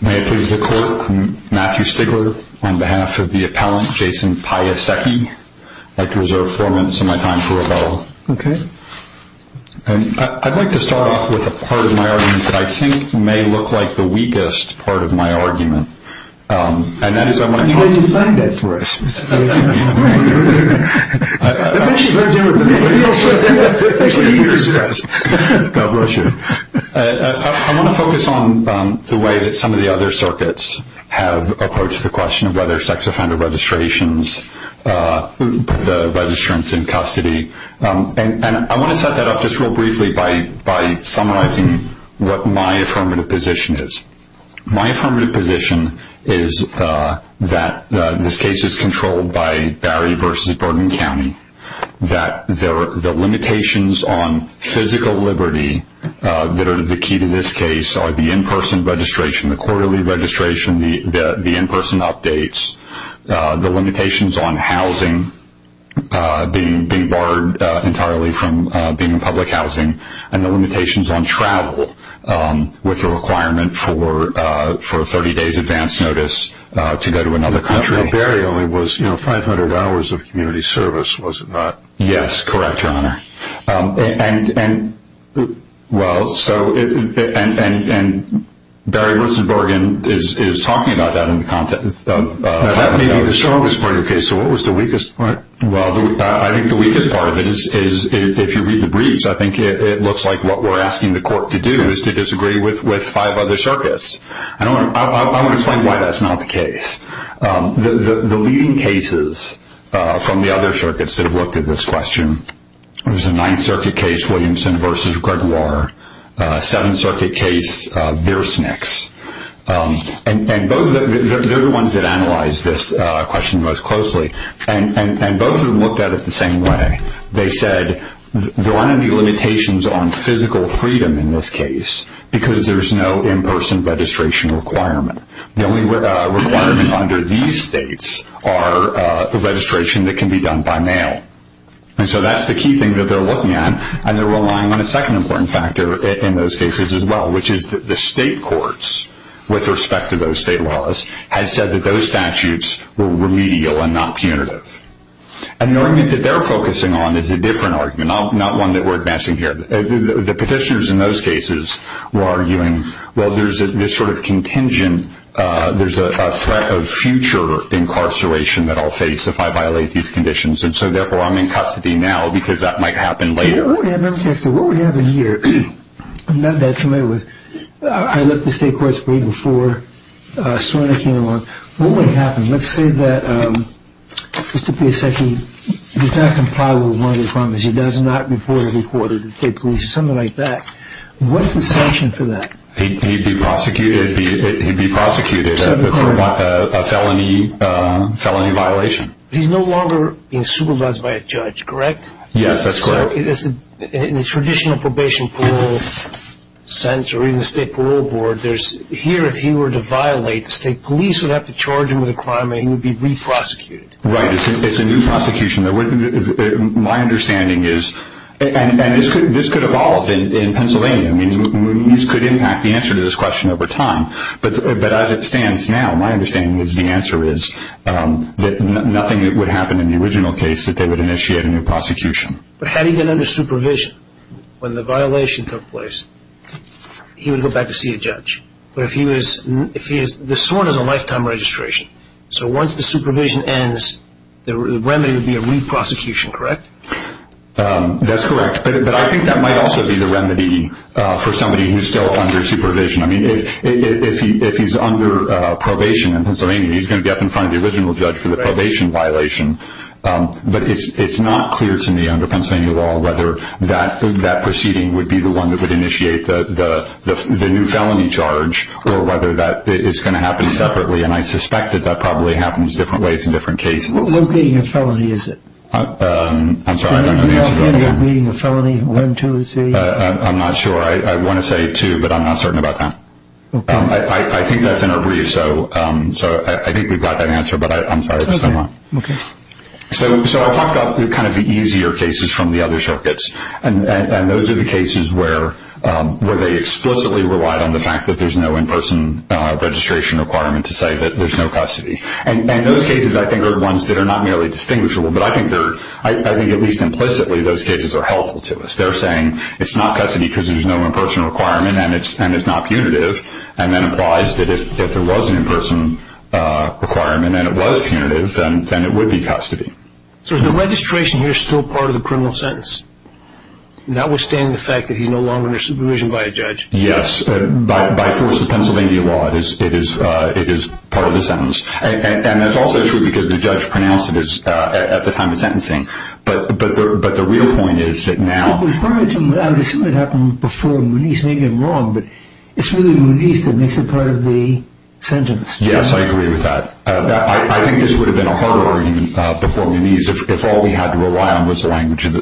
May it please the Court, Matthew Stigler on behalf of the appellant, Jason Piasecki. I'd like to reserve four minutes of my time for rebuttal. I'd like to start off with a part of my argument that I think may look like the weakest part of my argument. I want to focus on the way that some of the other circuits have approached the question of whether sex offender registrations, registrants in custody, and I want to set that up just real briefly by summarizing what my affirmative position is. My affirmative position is that this case is controlled by Barry v. Bergen County, that the limitations on physical liberty that are the key to this case are the in-person registration, the quarterly registration, the in-person updates, the limitations on housing being barred entirely from being public housing, and the limitations on travel with the requirement for a 30-day advance notice to go to another country. Barry only was, you know, 500 hours of community service, was it not? Yes, correct, Your Honor. And, well, so, and Barry v. Bergen is talking about that in the context of... That may be the strongest part of your case, so what was the weakest part? Well, I think the weakest part of it is, if you read the briefs, I think it looks like what we're asking the court to do is to disagree with five other circuits. I want to explain why that's not the case. The leading cases from the other circuits that have looked at this question, there's a Ninth Circuit case, Williamson v. Gregoire, Seventh Circuit case, Biersnicks, and they're the ones that analyzed this question most closely, and both of them looked at it the same way. They said there aren't any limitations on physical freedom in this case because there's no in-person registration requirement. The only requirement under these states are the registration that can be done by mail, and so that's the key thing that they're looking at, and they're relying on a second important factor in those cases as well, which is that the state courts, with respect to those state laws, have said that those statutes were remedial and not punitive. And the argument that they're focusing on is a different argument, not one that we're advancing here. The petitioners in those cases were arguing, well, there's this sort of contingent, there's a threat of future incarceration that I'll face if I violate these conditions, and so therefore I'm in custody now because that might happen later. What we have in here I'm not that familiar with. I looked at the state courts way before SORNA came along. What would happen, let's say that Mr. Piasecki does not comply with one of the promises, he does not report to the court or the state police or something like that, what's the sanction for that? He'd be prosecuted for a felony violation. He's no longer being supervised by a judge, correct? Yes, that's correct. So in the traditional probation parole sense or even the state parole board, here if he were to violate, the state police would have to charge him with a crime and he would be re-prosecuted. Right, it's a new prosecution. My understanding is, and this could evolve in Pennsylvania, and these could impact the answer to this question over time, but as it stands now, my understanding is the answer is that nothing would happen in the original case that they would initiate a new prosecution. But had he been under supervision when the violation took place, he would go back to see a judge. The SORNA is a lifetime registration, so once the supervision ends, the remedy would be a re-prosecution, correct? That's correct, but I think that might also be the remedy for somebody who's still under supervision. If he's under probation in Pennsylvania, he's going to be up in front of the original judge for the probation violation, but it's not clear to me, under Pennsylvania law, whether that proceeding would be the one that would initiate the new felony charge or whether that is going to happen separately, and I suspect that that probably happens different ways in different cases. What meeting of felony is it? I'm sorry, I don't know the answer to that. Meeting of felony, one, two, three? I'm not sure. I want to say two, but I'm not certain about that. Okay. I think that's in our brief, so I think we've got that answer, but I'm sorry for saying that. Okay. So I talked about kind of the easier cases from the other circuits, and those are the cases where they explicitly relied on the fact that there's no in-person registration requirement to say that there's no custody, and those cases, I think, are the ones that are not merely distinguishable, but I think at least implicitly those cases are helpful to us. They're saying it's not custody because there's no in-person requirement and it's not punitive, and that implies that if there was an in-person requirement and it was punitive, then it would be custody. So is the registration here still part of the criminal sentence, notwithstanding the fact that he's no longer under supervision by a judge? Yes. By force of Pennsylvania law, it is part of the sentence, and that's also true because the judge pronounced it at the time of sentencing, but the real point is that now... I would assume it happened before Muniz, maybe I'm wrong, but it's really Muniz that makes it part of the sentence. Yes, I agree with that. I think this would have been a hard argument before Muniz if all we had to rely on was the language that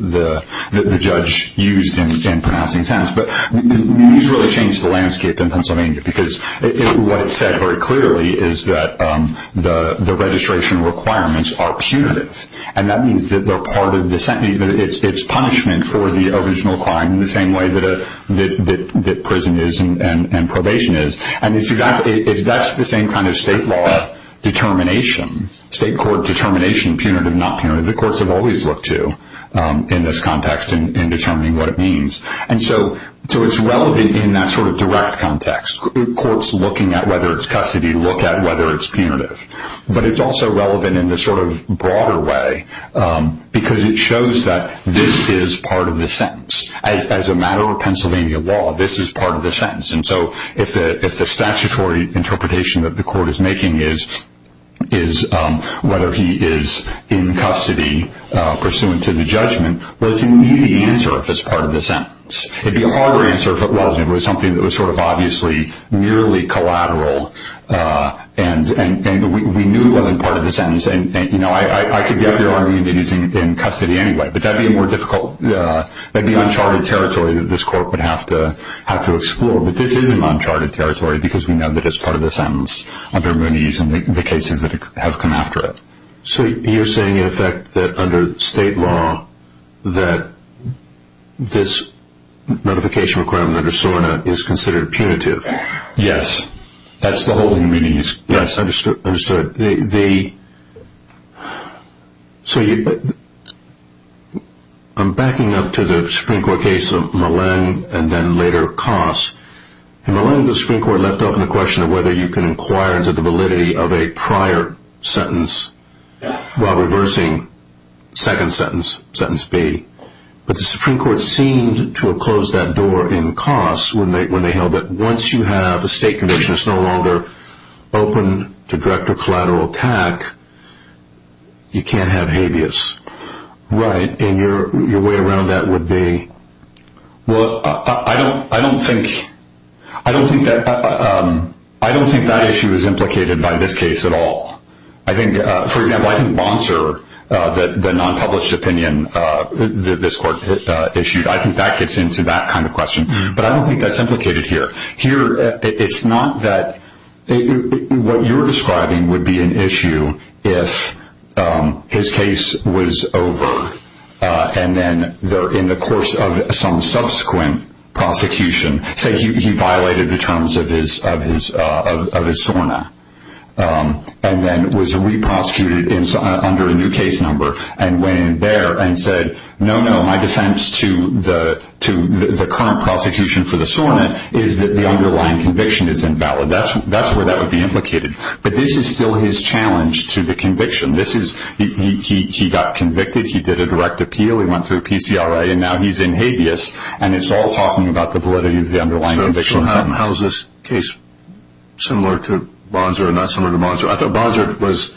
the judge used in pronouncing sentence, but Muniz really changed the landscape in Pennsylvania because what it said very clearly is that the registration requirements are punitive, and that means that they're part of the sentence. It's punishment for the original crime in the same way that prison is and probation is, and that's the same kind of state law determination, state court determination, punitive, not punitive. The courts have always looked to in this context in determining what it means, and so it's relevant in that sort of direct context. Courts looking at whether it's custody look at whether it's punitive, but it's also relevant in this sort of broader way because it shows that this is part of the sentence. As a matter of Pennsylvania law, this is part of the sentence, and so if the statutory interpretation that the court is making is whether he is in custody pursuant to the judgment, well, it's an easy answer if it's part of the sentence. It was something that was sort of obviously nearly collateral, and we knew it wasn't part of the sentence, and I could get your argument that he's in custody anyway, but that would be more difficult. That would be uncharted territory that this court would have to explore, but this is an uncharted territory because we know that it's part of the sentence under Muniz and the cases that have come after it. So you're saying in effect that under state law that this notification requirement under SORNA is considered punitive? Yes, that's the whole meaning. Yes, understood. I'm backing up to the Supreme Court case of Millen and then later Koss. Millen, the Supreme Court left open the question of whether you can inquire into the validity of a prior sentence while reversing second sentence, sentence B, but the Supreme Court seemed to have closed that door in Koss when they held that once you have a state condition that's no longer open to direct or collateral attack, you can't have habeas. Right. And your way around that would be? Well, I don't think that issue is implicated by this case at all. For example, I think Monser, the non-published opinion that this court issued, I think that gets into that kind of question, but I don't think that's implicated here. It's not that what you're describing would be an issue if his case was over and then in the course of some subsequent prosecution, say he violated the terms of his SORNA and then was re-prosecuted under a new case number and went in there and said, no, no, my defense to the current prosecution for the SORNA is that the underlying conviction is invalid. That's where that would be implicated. But this is still his challenge to the conviction. He got convicted, he did a direct appeal, he went through a PCRA, and now he's in habeas and it's all talking about the validity of the underlying conviction. So how is this case similar to Monser or not similar to Monser? I thought Monser was,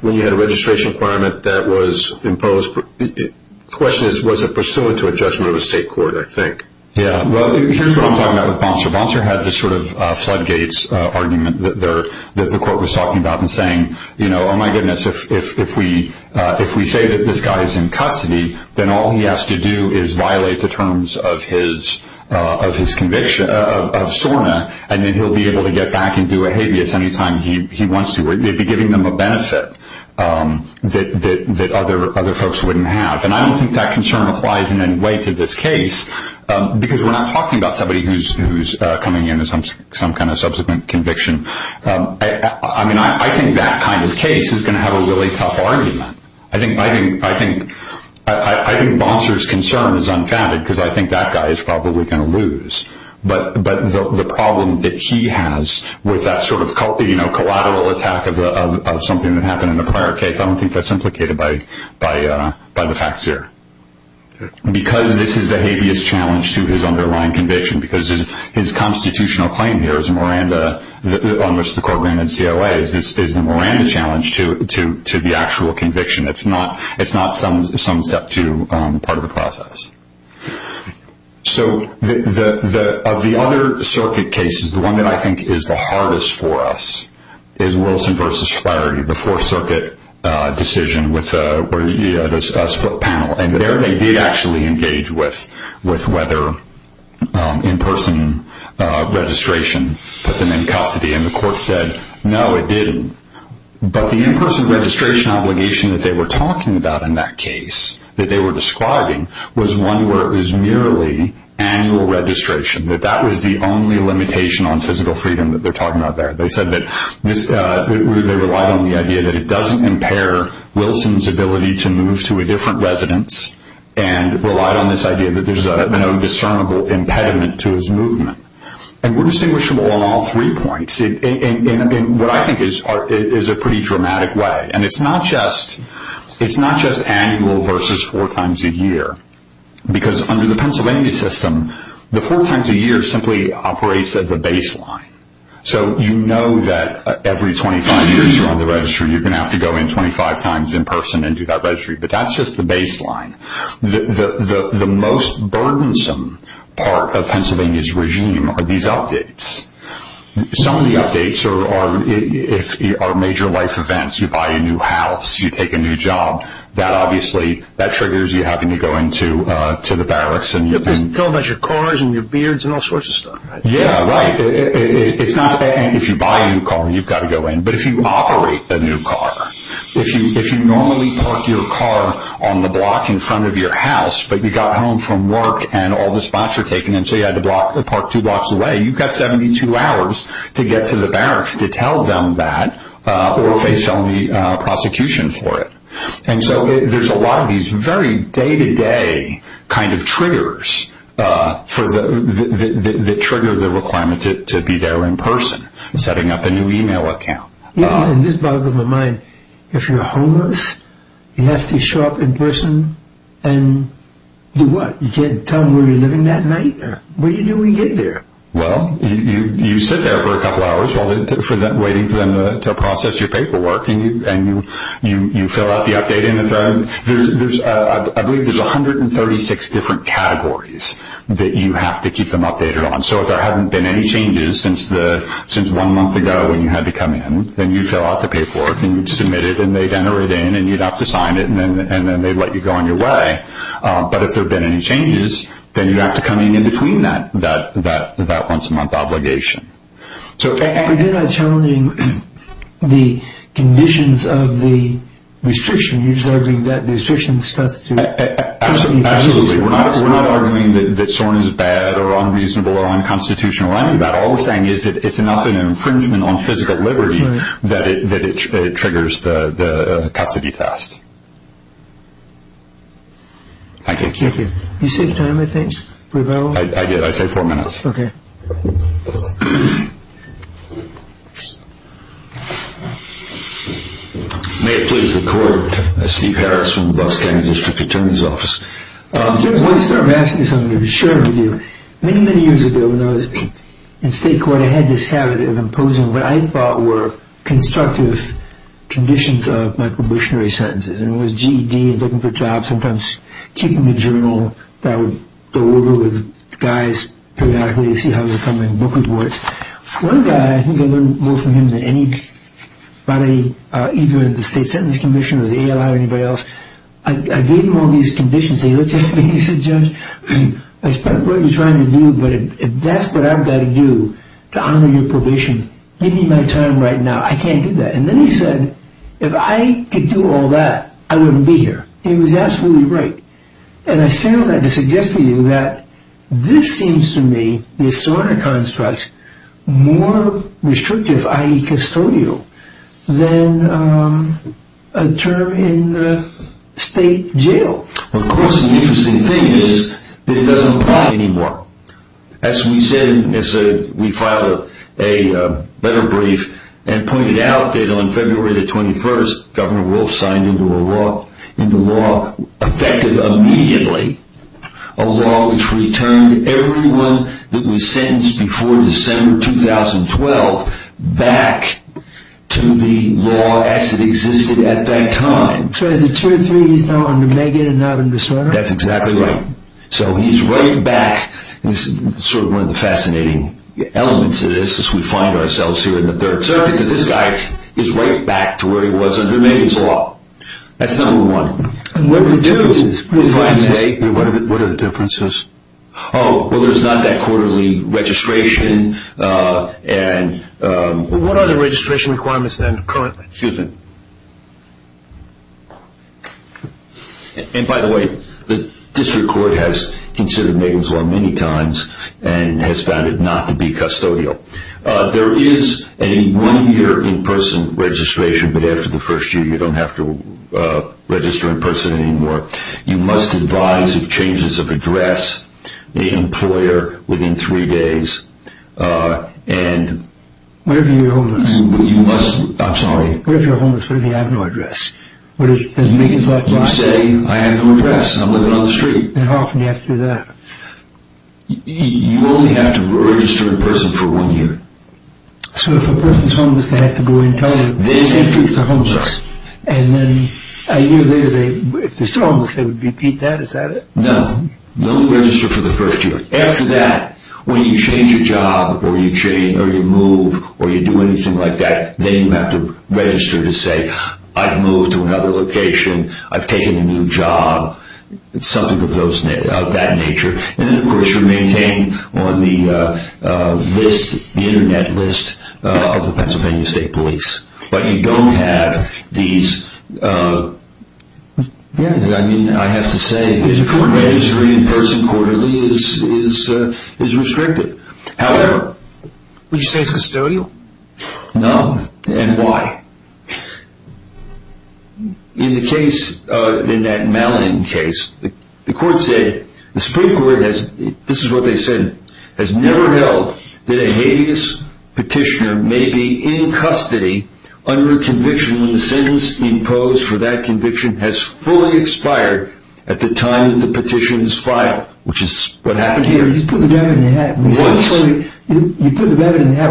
when you had a registration requirement that was imposed, the question is was it pursuant to a judgment of a state court, I think. Here's what I'm talking about with Monser. Monser had this sort of floodgates argument that the court was talking about and saying, oh my goodness, if we say that this guy is in custody, then all he has to do is violate the terms of his SORNA and then he'll be able to get back and do a habeas any time he wants to. They'd be giving them a benefit that other folks wouldn't have. And I don't think that concern applies in any way to this case because we're not talking about somebody who's coming in with some kind of subsequent conviction. I mean, I think that kind of case is going to have a really tough argument. I think Monser's concern is unfounded because I think that guy is probably going to lose. But the problem that he has with that sort of collateral attack of something that happened in the prior case, I don't think that's implicated by the facts here. Because this is the habeas challenge to his underlying conviction, because his constitutional claim here is a Miranda, on which the court granted COA, is a Miranda challenge to the actual conviction. It's not some step to part of the process. So of the other circuit cases, the one that I think is the hardest for us is Wilson v. Flaherty, the Fourth Circuit decision with a split panel. And there they did actually engage with whether in-person registration put them in custody. And the court said, no, it didn't. But the in-person registration obligation that they were talking about in that case, that they were describing, was one where it was merely annual registration. That that was the only limitation on physical freedom that they're talking about there. They said that they relied on the idea that it doesn't impair Wilson's ability to move to a different residence, and relied on this idea that there's no discernible impediment to his movement. And we're distinguishable on all three points in what I think is a pretty dramatic way. And it's not just annual versus four times a year. Because under the Pennsylvania system, the four times a year simply operates as a baseline. So you know that every 25 years you're on the registry, you're going to have to go in 25 times in person and do that registry. But that's just the baseline. The most burdensome part of Pennsylvania's regime are these updates. Some of the updates are major life events. You buy a new house. You take a new job. That obviously, that triggers you having to go into the barracks. You're talking about your cars and your beards and all sorts of stuff. Yeah, right. If you buy a new car, you've got to go in. But if you operate a new car, if you normally park your car on the block in front of your house, but you got home from work and all the spots were taken, and so you had to park two blocks away, you've got 72 hours to get to the barracks to tell them that or face felony prosecution for it. And so there's a lot of these very day-to-day kind of triggers that trigger the requirement to be there in person, setting up a new e-mail account. In this part of my mind, if you're homeless, you have to show up in person and do what? You can't tell them where you're living that night? What do you do when you get there? Well, you sit there for a couple hours waiting for them to process your paperwork, and you fill out the update. I believe there's 136 different categories that you have to keep them updated on. So if there haven't been any changes since one month ago when you had to come in, then you fill out the paperwork and you'd submit it, and they'd enter it in, and you'd have to sign it, and then they'd let you go on your way. But if there have been any changes, then you have to come in in between that once-a-month obligation. But you're not challenging the conditions of the restriction. You're just arguing that the restriction is supposed to be procedure. Absolutely. We're not arguing that someone is bad or unreasonable or unconstitutional or any of that. All we're saying is that it's enough of an infringement on physical liberty that it triggers the custody test. Thank you. Thank you. You said time, I think? I did. I said four minutes. Okay. May it please the Court. Steve Harris from Boston District Attorney's Office. I want to start by asking you something to be sure to do. Many, many years ago when I was in state court, I had this habit of imposing what I thought were constructive conditions of my probationary sentences. And it was GED and looking for jobs, sometimes keeping the journal that would go over with guys periodically to see how they were coming, book reports. One guy, I think I learned more from him than anybody, either in the State Sentence Commission or the ALI or anybody else, I gave him all these conditions. He looked at me and he said, Judge, I respect what you're trying to do, but if that's what I've got to do to honor your probation, give me my time right now. I can't do that. And then he said, if I could do all that, I wouldn't be here. He was absolutely right. And I stand on that to suggest to you that this seems to me, this sort of construct, more restrictive, i.e. custodial, than a term in state jail. Of course, the interesting thing is that it doesn't apply anymore. As we said, we filed a letter brief and pointed out that on February the 21st, Governor Wolf signed into law, effective immediately, a law which returned everyone that was sentenced before December 2012 back to the law as it existed at that time. So is it true that he's now under Megan and not under Sorter? That's exactly right. So he's right back. This is sort of one of the fascinating elements of this, as we find ourselves here in the third circuit, that this guy is right back to where he was under Megan's law. That's number one. What are the differences? Oh, well, there's not that quarterly registration. What are the registration requirements then currently? Excuse me. And by the way, the district court has considered Megan's law many times and has found it not to be custodial. There is a one-year in-person registration, but after the first year you don't have to register in person anymore. You must advise of changes of address, the employer, within three days. What if you're homeless? I'm sorry. What if you're homeless? What if you have no address? Does Megan's law apply? You say, I have no address. I'm living on the street. And how often do you have to do that? You only have to register in person for one year. So if a person's homeless, they have to go in and tell them, And then a year later, if they're still homeless, they would repeat that? Is that it? No, no register for the first year. After that, when you change your job or you move or you do anything like that, then you have to register to say, I've moved to another location. I've taken a new job. It's something of that nature. And then, of course, you're maintained on the list, the Internet list of the Pennsylvania State Police. But you don't have these, I mean, I have to say, the court registry in person quarterly is restricted. However. Would you say it's custodial? No. And why? In the case, in that Mallin case, the court said, the Supreme Court has, this is what they said, has never held that a habeas petitioner may be in custody under conviction when the sentence imposed for that conviction has fully expired at the time that the petition is filed, which is what happened here. You put the rabbit in the hat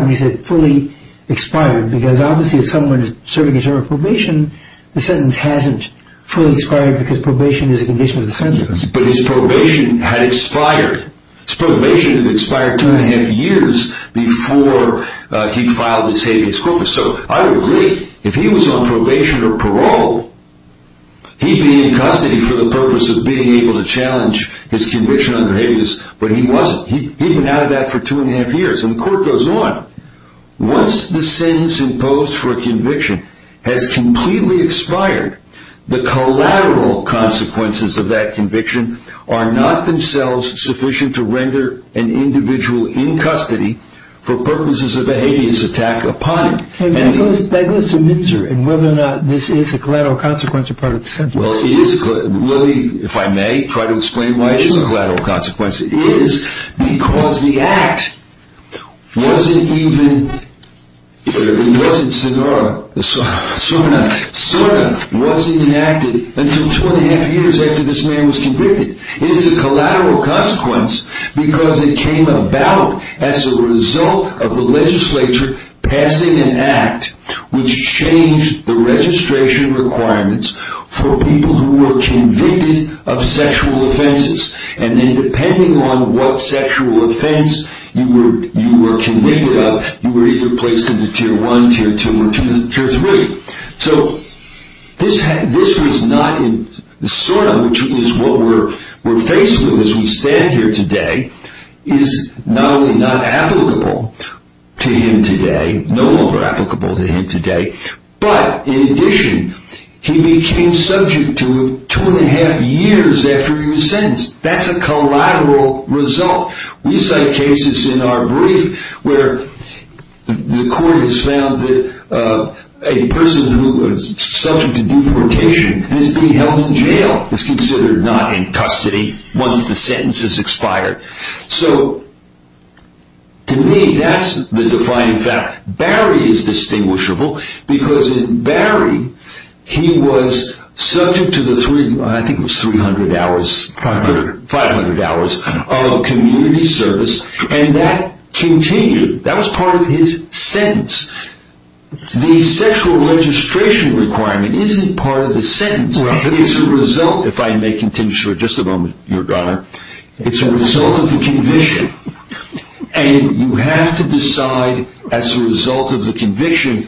when you said fully expired, because obviously if someone is serving a term of probation, the sentence hasn't fully expired because probation is a condition of the sentence. But his probation had expired. His probation had expired two and a half years before he filed his habeas corpus. So I would agree, if he was on probation or parole, he'd be in custody for the purpose of being able to challenge his conviction under habeas, but he wasn't. He'd been out of that for two and a half years. And the court goes on. Once the sentence imposed for a conviction has completely expired, the collateral consequences of that conviction are not themselves sufficient to render an individual in custody for purposes of a habeas attack upon him. That goes to Mitzer and whether or not this is a collateral consequence or part of the sentence. Well, it is. Let me, if I may, try to explain why it is a collateral consequence. It is because the act wasn't even, it wasn't SORNA, SORNA wasn't enacted until two and a half years after this man was convicted. It is a collateral consequence because it came about as a result of the legislature passing an act which changed the registration requirements for people who were convicted of sexual offenses and then depending on what sexual offense you were convicted of, you were either placed into tier one, tier two, or tier three. So this was not in SORNA, which is what we're faced with as we stand here today, is not only not applicable to him today, no longer applicable to him today, but in addition, he became subject to two and a half years after he was sentenced. That's a collateral result. We cite cases in our brief where the court has found that a person who was subject to deportation and is being held in jail is considered not in custody once the sentence has expired. So to me, that's the defining fact. Barry is distinguishable because in Barry, he was subject to the three, I think it was three hundred hours, five hundred hours of community service and that continued, that was part of his sentence. The sexual registration requirement isn't part of the sentence, it's a result, if I may continue for just a moment, Your Honor, it's a result of the conviction. And you have to decide as a result of the conviction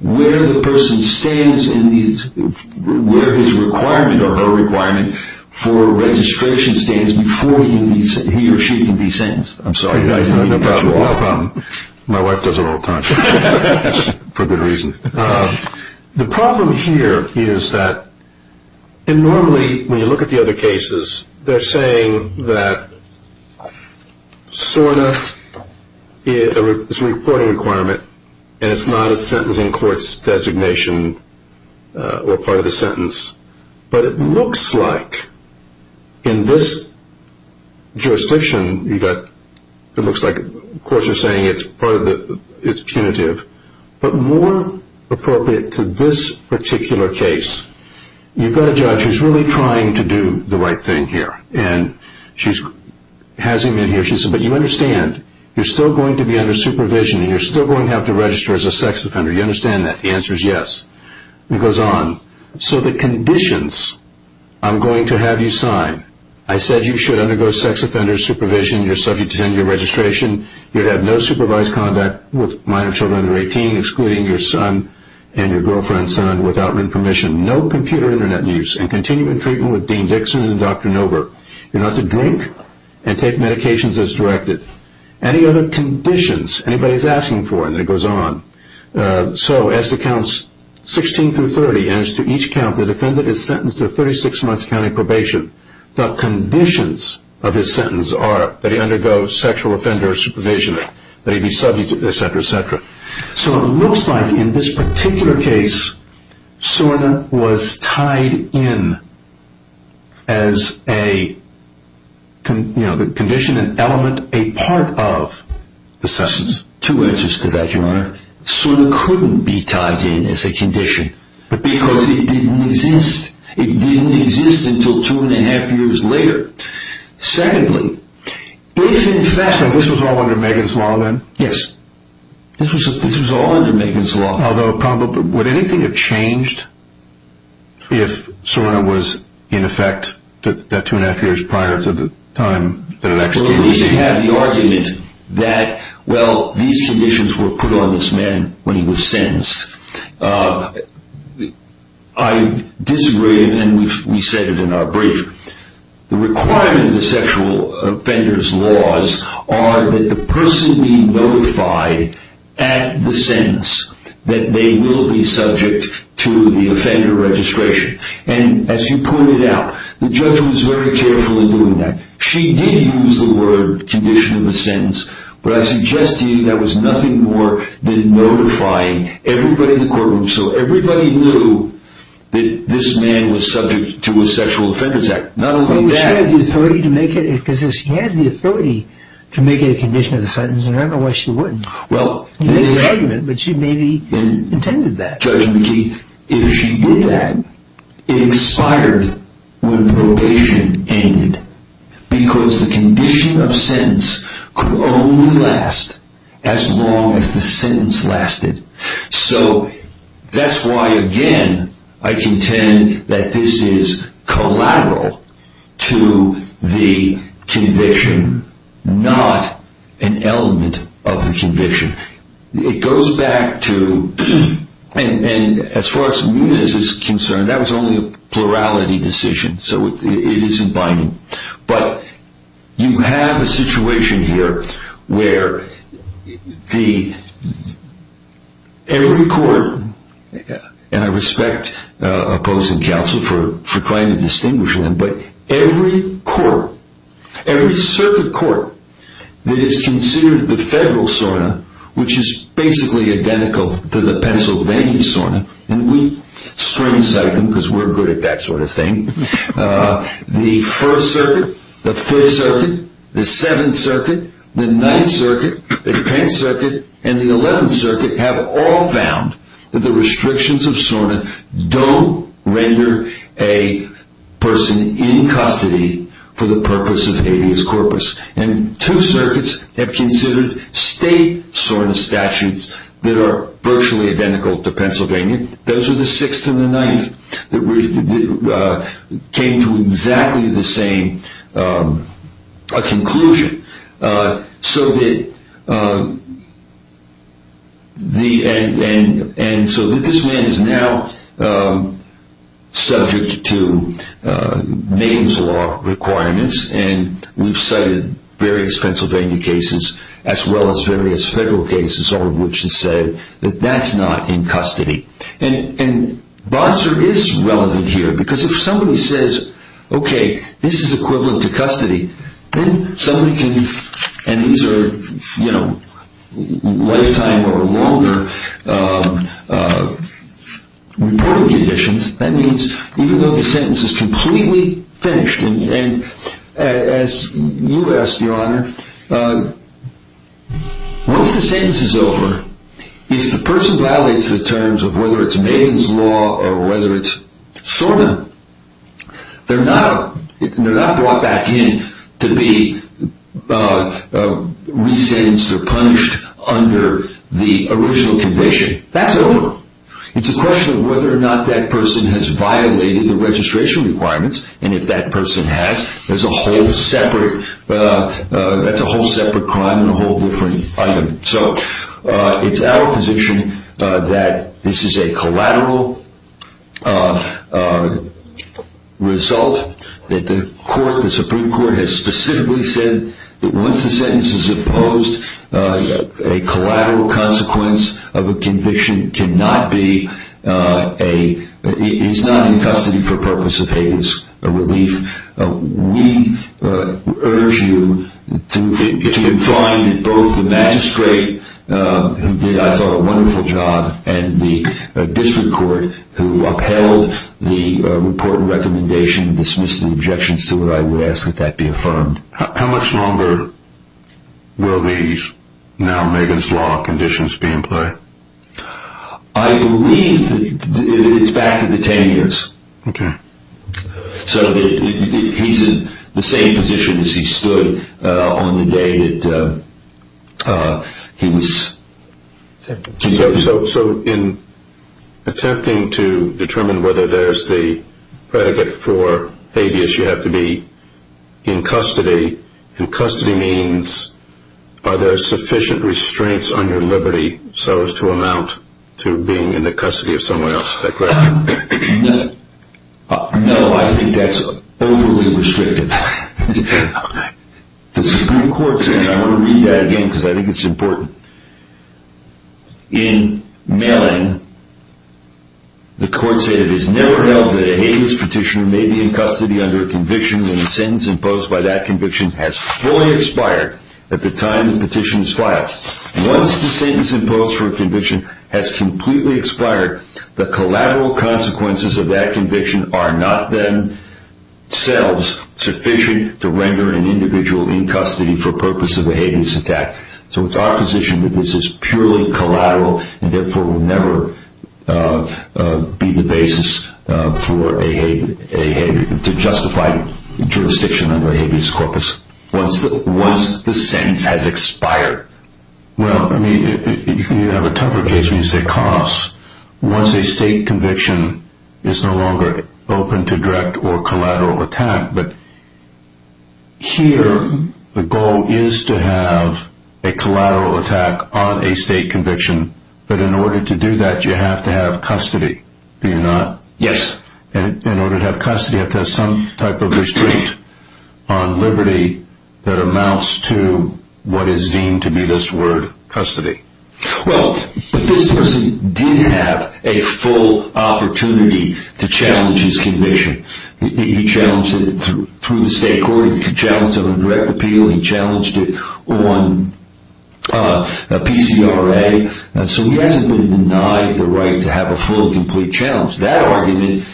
where the person stands and where his requirement or her requirement for registration stands before he or she can be sentenced. I'm sorry. No problem. My wife does it all the time for good reason. The problem here is that normally when you look at the other cases, they're saying that SORTA is a reporting requirement and it's not a sentence in court's designation or part of the sentence. But it looks like in this jurisdiction, it looks like courts are saying it's punitive. But more appropriate to this particular case, you've got a judge who's really trying to do the right thing here. And she has him in here. She says, But you understand you're still going to be under supervision and you're still going to have to register as a sex offender. You understand that? The answer is yes. It goes on. So the conditions I'm going to have you sign, I said you should undergo sex offender supervision, you're subject to tenure registration, you have no supervised conduct with minor children under 18, excluding your son and your girlfriend's son without written permission, no computer internet use, and continuing treatment with Dean Dixon and Dr. Nover. You're not to drink and take medications as directed. Any other conditions anybody's asking for, and it goes on. So as to counts 16 through 30, and as to each count the defendant is sentenced to a 36-month county probation, the conditions of his sentence are that he undergo sexual offender supervision, that he be subject, et cetera, et cetera. So it looks like in this particular case, SORNA was tied in as a condition, an element, a part of the sentence. Two answers to that, Your Honor. SORNA couldn't be tied in as a condition because it didn't exist. It didn't exist until two and a half years later. Secondly, if in fact… So this was all under Megan's law then? Yes. This was all under Megan's law. Although would anything have changed if SORNA was in effect that two and a half years prior to the time that it actually existed? Well, at least you have the argument that, well, these conditions were put on this man when he was sentenced. I disagree, and we've said it in our brief. The requirement of the sexual offender's laws are that the person be notified at the sentence that they will be subject to the offender registration. And as you pointed out, the judge was very careful in doing that. She did use the word condition of the sentence, but I suggest to you that was nothing more than notifying everybody in the courtroom so everybody knew that this man was subject to a sexual offender's act. Not only that… But she had the authority to make it… Because if she has the authority to make it a condition of the sentence, then I don't know why she wouldn't. Well… She made the argument, but she maybe intended that. Judge McKee, if she did that, it expired when probation ended because the condition of sentence could only last as long as the sentence lasted. So that's why, again, I contend that this is collateral to the condition, not an element of the condition. It goes back to… And as far as Muniz is concerned, that was only a plurality decision, so it isn't binding. But you have a situation here where the… Every court, and I respect opposing counsel for trying to distinguish them, but every court, every circuit court that is considered the federal SORNA, which is basically identical to the Pennsylvania SORNA, and we string cite them because we're good at that sort of thing, the 1st Circuit, the 5th Circuit, the 7th Circuit, the 9th Circuit, the 10th Circuit, and the 11th Circuit have all found that the restrictions of SORNA don't render a person in custody for the purpose of habeas corpus. And two circuits have considered state SORNA statutes that are virtually identical to Pennsylvania. Those are the 6th and the 9th that came to exactly the same conclusion. And so this man is now subject to maintenance law requirements, and we've cited various Pennsylvania cases as well as various federal cases, all of which have said that that's not in custody. And Bonser is relevant here because if somebody says, okay, this is equivalent to custody, then somebody can… And these are lifetime or longer reporting conditions. That means even though the sentence is completely finished, and as you asked, Your Honor, once the sentence is over, if the person violates the terms of whether it's maintenance law or whether it's SORNA, they're not brought back in to be re-sentenced or punished under the original condition. That's over. It's a question of whether or not that person has violated the registration requirements, and if that person has, that's a whole separate crime and a whole different item. So it's our position that this is a collateral result, that the Supreme Court has specifically said that once the sentence is imposed, a collateral consequence of a conviction is not in custody for purpose of Hager's relief. We urge you to confine both the magistrate, who did, I thought, a wonderful job, and the district court who upheld the report and recommendation and dismissed the objections to it. I would ask that that be affirmed. How much longer will these now Megan's Law conditions be in play? I believe it's back to the 10 years. Okay. So he's in the same position as he stood on the day that he was sentenced. So in attempting to determine whether there's the predicate for habeas, you have to be in custody, and custody means are there sufficient restraints on your liberty so as to amount to being in the custody of someone else. Is that correct? No, I think that's overly restrictive. The Supreme Court said, and I want to read that again because I think it's important, in mailing, the court said, it is never held that a habeas petitioner may be in custody under a conviction when the sentence imposed by that conviction has fully expired at the time the petition is filed. Once the sentence imposed for a conviction has completely expired, the collateral consequences of that conviction are not then, themselves, sufficient to render an individual in custody for purpose of a habeas attack. So it's our position that this is purely collateral and therefore will never be the basis to justify jurisdiction under a habeas corpus. Once the sentence has expired. Well, I mean, you have a tougher case when you say costs. Once a state conviction is no longer open to direct or collateral attack, but here the goal is to have a collateral attack on a state conviction, but in order to do that you have to have custody, do you not? Yes. In order to have custody you have to have some type of restraint on liberty that amounts to what is deemed to be this word, custody. Well, but this person did have a full opportunity to challenge his conviction. He challenged it through the state court. He challenged it on a direct appeal. He challenged it on a PCRA. So he hasn't been denied the right to have a full, complete challenge. That argument,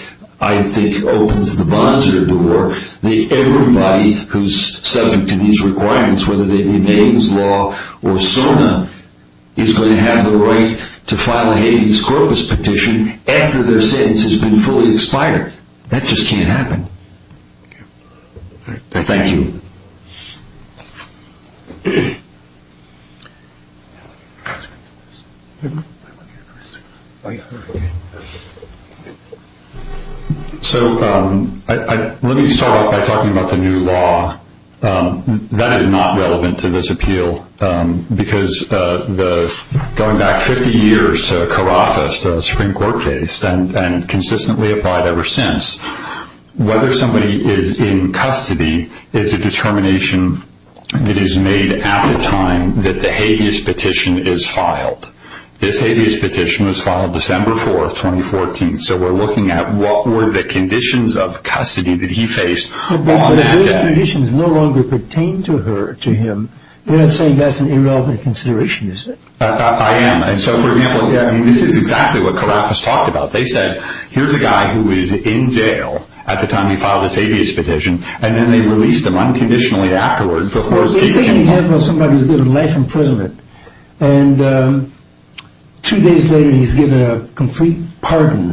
I think, opens the bonzer door. Everybody who's subject to these requirements, whether they be Maidens Law or SONA, is going to have the right to file a habeas corpus petition after their sentence has been fully expired. That just can't happen. Thank you. So let me start off by talking about the new law. That is not relevant to this appeal because going back 50 years to Carafa's Supreme Court case and consistently applied ever since, whether somebody is in custody is a determination that is made at the time that the habeas petition is filed. This habeas petition was filed December 4, 2014, so we're looking at what were the conditions of custody that he faced on that day. If the conditions no longer pertain to him, you're not saying that's an irrelevant consideration, is it? I am. And so, for example, this is exactly what Carafa's talked about. They said, here's a guy who is in jail at the time he filed this habeas petition, and then they released him unconditionally afterwards before his case came forward. Well, this is an example of somebody who's been in life imprisonment, and two days later he's given a complete pardon.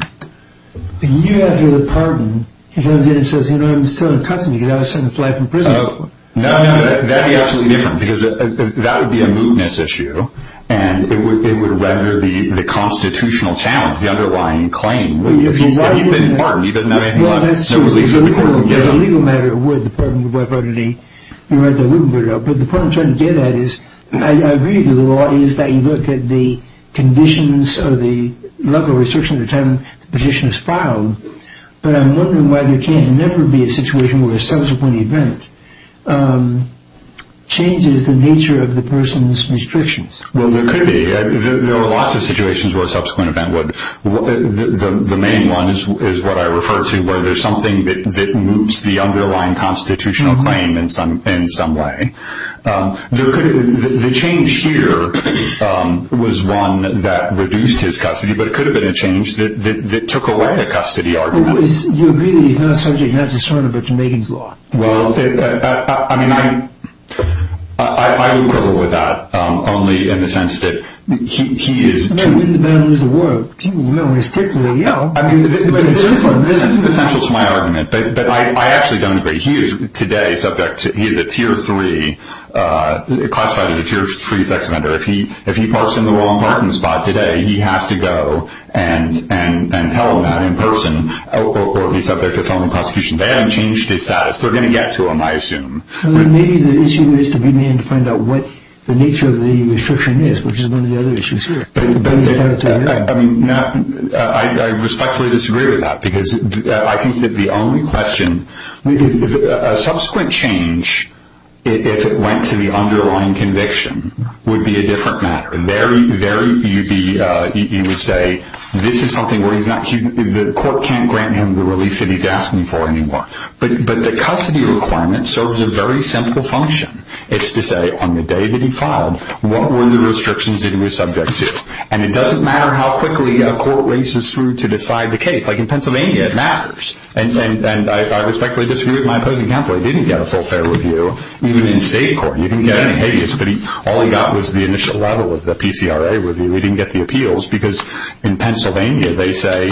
A year after the pardon, he comes in and says, you know, I'm still in custody because I was sentenced to life imprisonment. No, no, that would be absolutely different because that would be a mootness issue, and it would render the constitutional challenge, the underlying claim, moot. If he's been pardoned, he doesn't have anything left. Well, that's true. If it was a legal matter, it would. The pardon would be violated. But the point I'm trying to get at is, I agree that the law is that you look at the conditions or the level of restriction at the time the petition is filed, but I'm wondering why there can't never be a situation where a subsequent event changes the nature of the person's restrictions. Well, there could be. There are lots of situations where a subsequent event would. The main one is what I refer to, where there's something that moots the underlying constitutional claim in some way. The change here was one that reduced his custody, but it could have been a change that took away the custody argument. You agree that he's not a subject, not a discerner, but to Megan's law. Well, I mean, I would quibble with that only in the sense that he is too— He's the man who didn't lose the war. You know, when he's ticked, he'll yell. I mean, this is essential to my argument, but I actually don't agree. He is today subject to either Tier 3, classified as a Tier 3 sex offender. If he parks in the Ron Martin spot today, he has to go and tell him that in person, or if he's subject to felony prosecution. They haven't changed his status. They're going to get to him, I assume. Maybe the issue is to begin to find out what the nature of the restriction is, which is one of the other issues here. I mean, I respectfully disagree with that because I think that the only question— A subsequent change, if it went to the underlying conviction, would be a different matter. There you would say this is something where the court can't grant him the relief that he's asking for anymore. But the custody requirement serves a very simple function. It's to say on the day that he filed, what were the restrictions that he was subject to? And it doesn't matter how quickly a court races through to decide the case. Like in Pennsylvania, it matters. And I respectfully disagree with my opposing counsel. He didn't get a full fair review, even in state court. He didn't get any habeas, but all he got was the initial level of the PCRA review. He didn't get the appeals because in Pennsylvania they say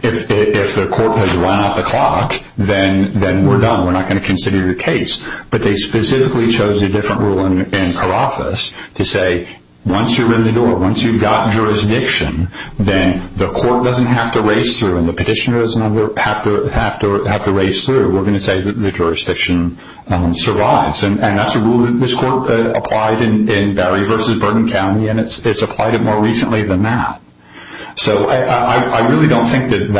if the court has run out the clock, then we're done. We're not going to consider your case. But they specifically chose a different rule in Carafas to say once you're in the door, once you've got jurisdiction, then the court doesn't have to race through and the petitioner doesn't have to race through. We're going to say that the jurisdiction survives. And that's a rule that this court applied in Barry v. Bourbon County, and it's applied it more recently than that. So I really don't think that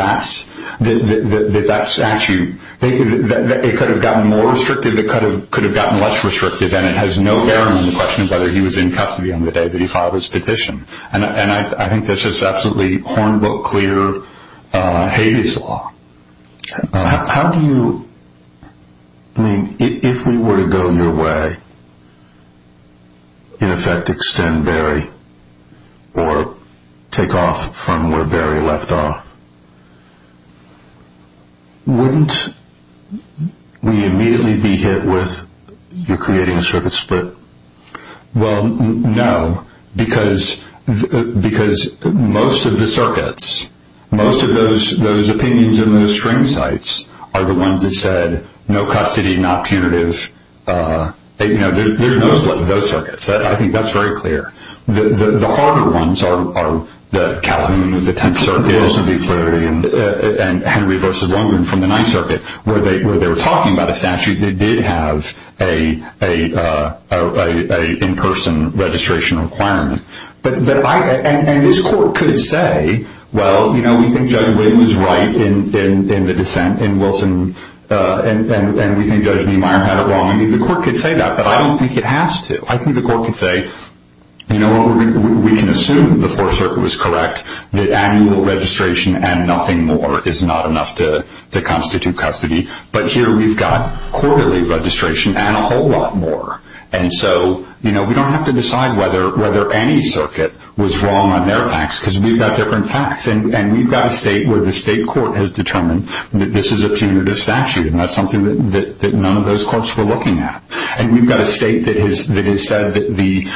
that statute, it could have gotten more restrictive, it could have gotten less restrictive, and it has no bearing on the question of whether he was in custody on the day that he filed his petition. And I think that's just absolutely hornbill clear habeas law. How do you, I mean, if we were to go your way, in effect extend Barry or take off from where Barry left off, wouldn't we immediately be hit with you're creating a circuit split? Well, no, because most of the circuits, most of those opinions in those string sites, are the ones that said no custody, not punitive. There's no split in those circuits. I think that's very clear. The harder ones are the Calhoun of the 10th Circuit, and Henry v. Longman from the 9th Circuit, where they were talking about a statute that did have an in-person registration requirement. And this court could say, well, you know, we think Judge Wynn was right in the dissent in Wilson, and we think Judge Niemeyer had it wrong. I mean, the court could say that, but I don't think it has to. I think the court could say, you know what, we can assume the Fourth Circuit was correct, that annual registration and nothing more is not enough to constitute custody. But here we've got quarterly registration and a whole lot more. And so, you know, we don't have to decide whether any circuit was wrong on their facts, because we've got different facts. And we've got a state where the state court has determined that this is a punitive statute, and that's something that none of those courts were looking at. And we've got a state that has said that the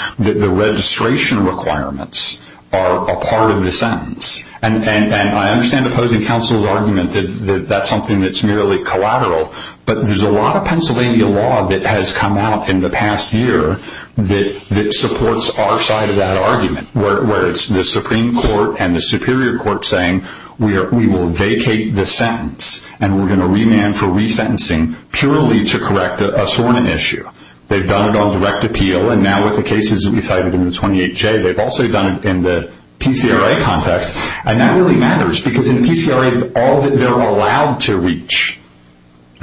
registration requirements are a part of the sentence. And I understand opposing counsel's argument that that's something that's merely collateral, but there's a lot of Pennsylvania law that has come out in the past year that supports our side of that argument, where it's the Supreme Court and the Superior Court saying we will vacate the sentence, and we're going to remand for resentencing purely to correct a sworn issue. They've done it on direct appeal, and now with the cases that we cited in the 28J, they've also done it in the PCRA context. And that really matters, because in the PCRA, all that they're allowed to reach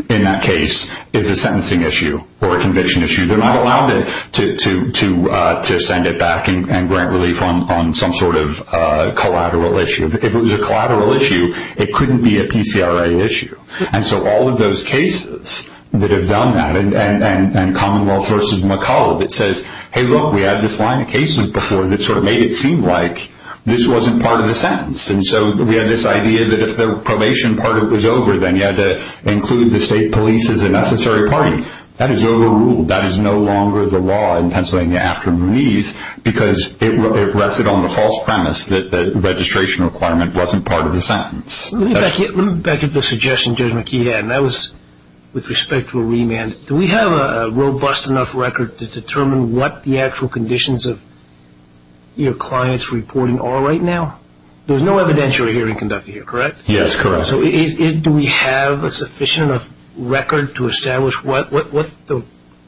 in that case is a sentencing issue or a conviction issue. They're not allowed to send it back and grant relief on some sort of collateral issue. If it was a collateral issue, it couldn't be a PCRA issue. And so all of those cases that have done that, and Commonwealth v. McCulloch, it says, hey, look, we had this line of cases before that sort of made it seem like this wasn't part of the sentence. And so we had this idea that if the probation part of it was over, then you had to include the state police as a necessary party. That is overruled. That is no longer the law in Pennsylvania after Mooney's, because it rested on the false premise that the registration requirement wasn't part of the sentence. Let me back up to a suggestion Judge McKee had, and that was with respect to a remand. Do we have a robust enough record to determine what the actual conditions of your client's reporting are right now? There's no evidentiary hearing conducted here, correct? Yes, correct. So do we have a sufficient enough record to establish what the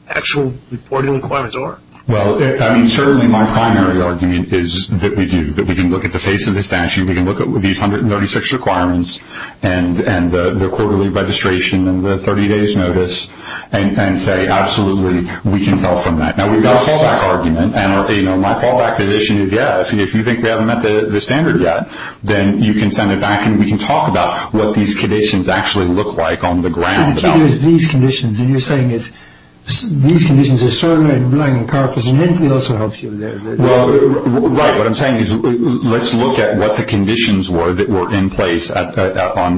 actual reporting requirements are? Well, I mean, certainly my primary argument is that we do, that we can look at the face of the statute, we can look at these 136 requirements and the quarterly registration and the 30 days notice, and say absolutely, we can tell from that. Now, we've got a fallback argument, and my fallback position is, yeah, if you think we haven't met the standard yet, then you can send it back and we can talk about what these conditions actually look like on the ground. What you do is these conditions, and you're saying it's these conditions are certainly lying in carpets, and Hensley also helps you with that. Right. What I'm saying is let's look at what the conditions were that were in place on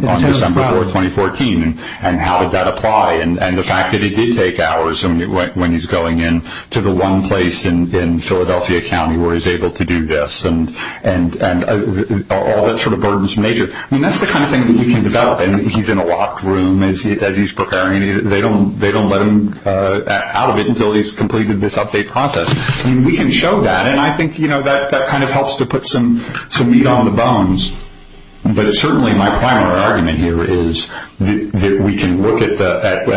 December 4, 2014, and how did that apply, and the fact that he did take hours when he's going in to the one place in Philadelphia County where he's able to do this, and all that sort of burdensome nature. I mean, that's the kind of thing that you can develop. He's in a locked room as he's preparing. They don't let him out of it until he's completed this update process. I mean, we can show that, and I think that kind of helps to put some meat on the bones, but certainly my primary argument here is that we can look at the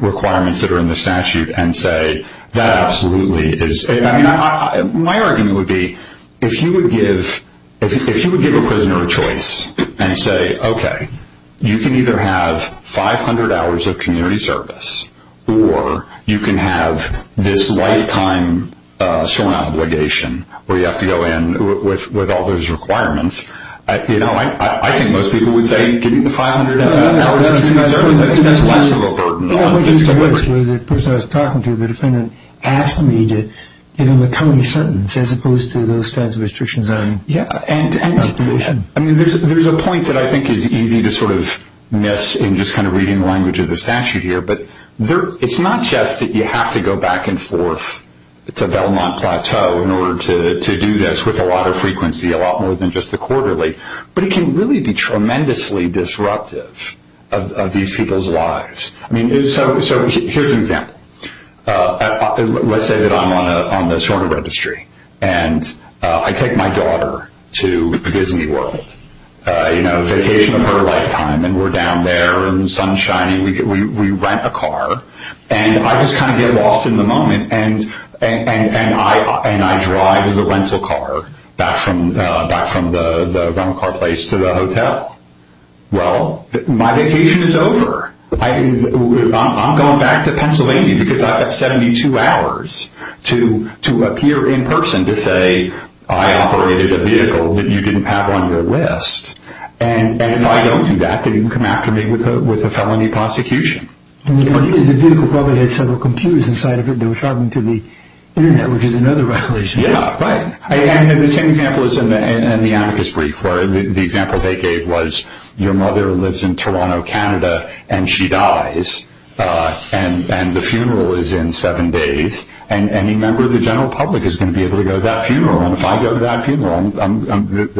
requirements that are in the statute and say that absolutely is. I mean, my argument would be if you would give a prisoner a choice and say, okay, you can either have 500 hours of community service, or you can have this lifetime sworn obligation where you have to go in with all those requirements, I think most people would say give me the 500 hours of community service. I think that's less of a burden on physical liberty. The person I was talking to, the defendant, asked me to give him a coming sentence as opposed to those kinds of restrictions on probation. I mean, there's a point that I think is easy to sort of miss in just kind of reading the language of the statute here, but it's not just that you have to go back and forth to Belmont Plateau in order to do this with a lot of frequency, a lot more than just the quarterly, but it can really be tremendously disruptive of these people's lives. I mean, so here's an example. Let's say that I'm on the sworn registry, and I take my daughter to Disney World, you know, vacation of her lifetime, and we're down there and the sun's shining. We rent a car, and I just kind of get lost in the moment, and I drive the rental car back from the rental car place to the hotel. Well, my vacation is over. I'm going back to Pennsylvania because I've got 72 hours to appear in person to say, I operated a vehicle that you didn't have on your list, and if I don't do that, then you can come after me with a felony prosecution. The vehicle probably had several computers inside of it that were talking to the Internet, which is another violation. Yeah, right. And the same example is in the amicus brief where the example they gave was, your mother lives in Toronto, Canada, and she dies, and the funeral is in seven days, and any member of the general public is going to be able to go to that funeral, and if I go to that funeral,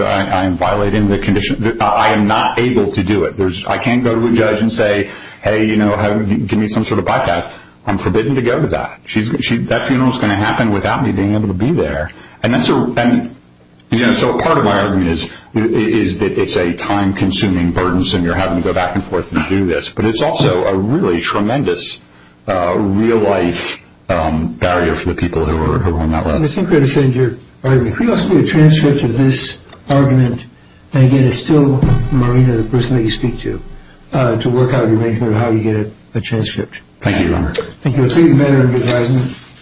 I am violating the condition. I am not able to do it. I can't go to a judge and say, hey, you know, give me some sort of bypass. I'm forbidden to go to that. That funeral's going to happen without me being able to be there, and so part of my argument is that it's a time-consuming burden, so you're having to go back and forth and do this, but it's also a really tremendous real-life barrier for the people who are on that list. I think we understand your argument. Can we also do a transcript of this argument? Again, it's still Marina, the person that you speak to, to work out an arrangement of how you get a transcript. Thank you. Thank you. Thank you. Thank you. Thank you.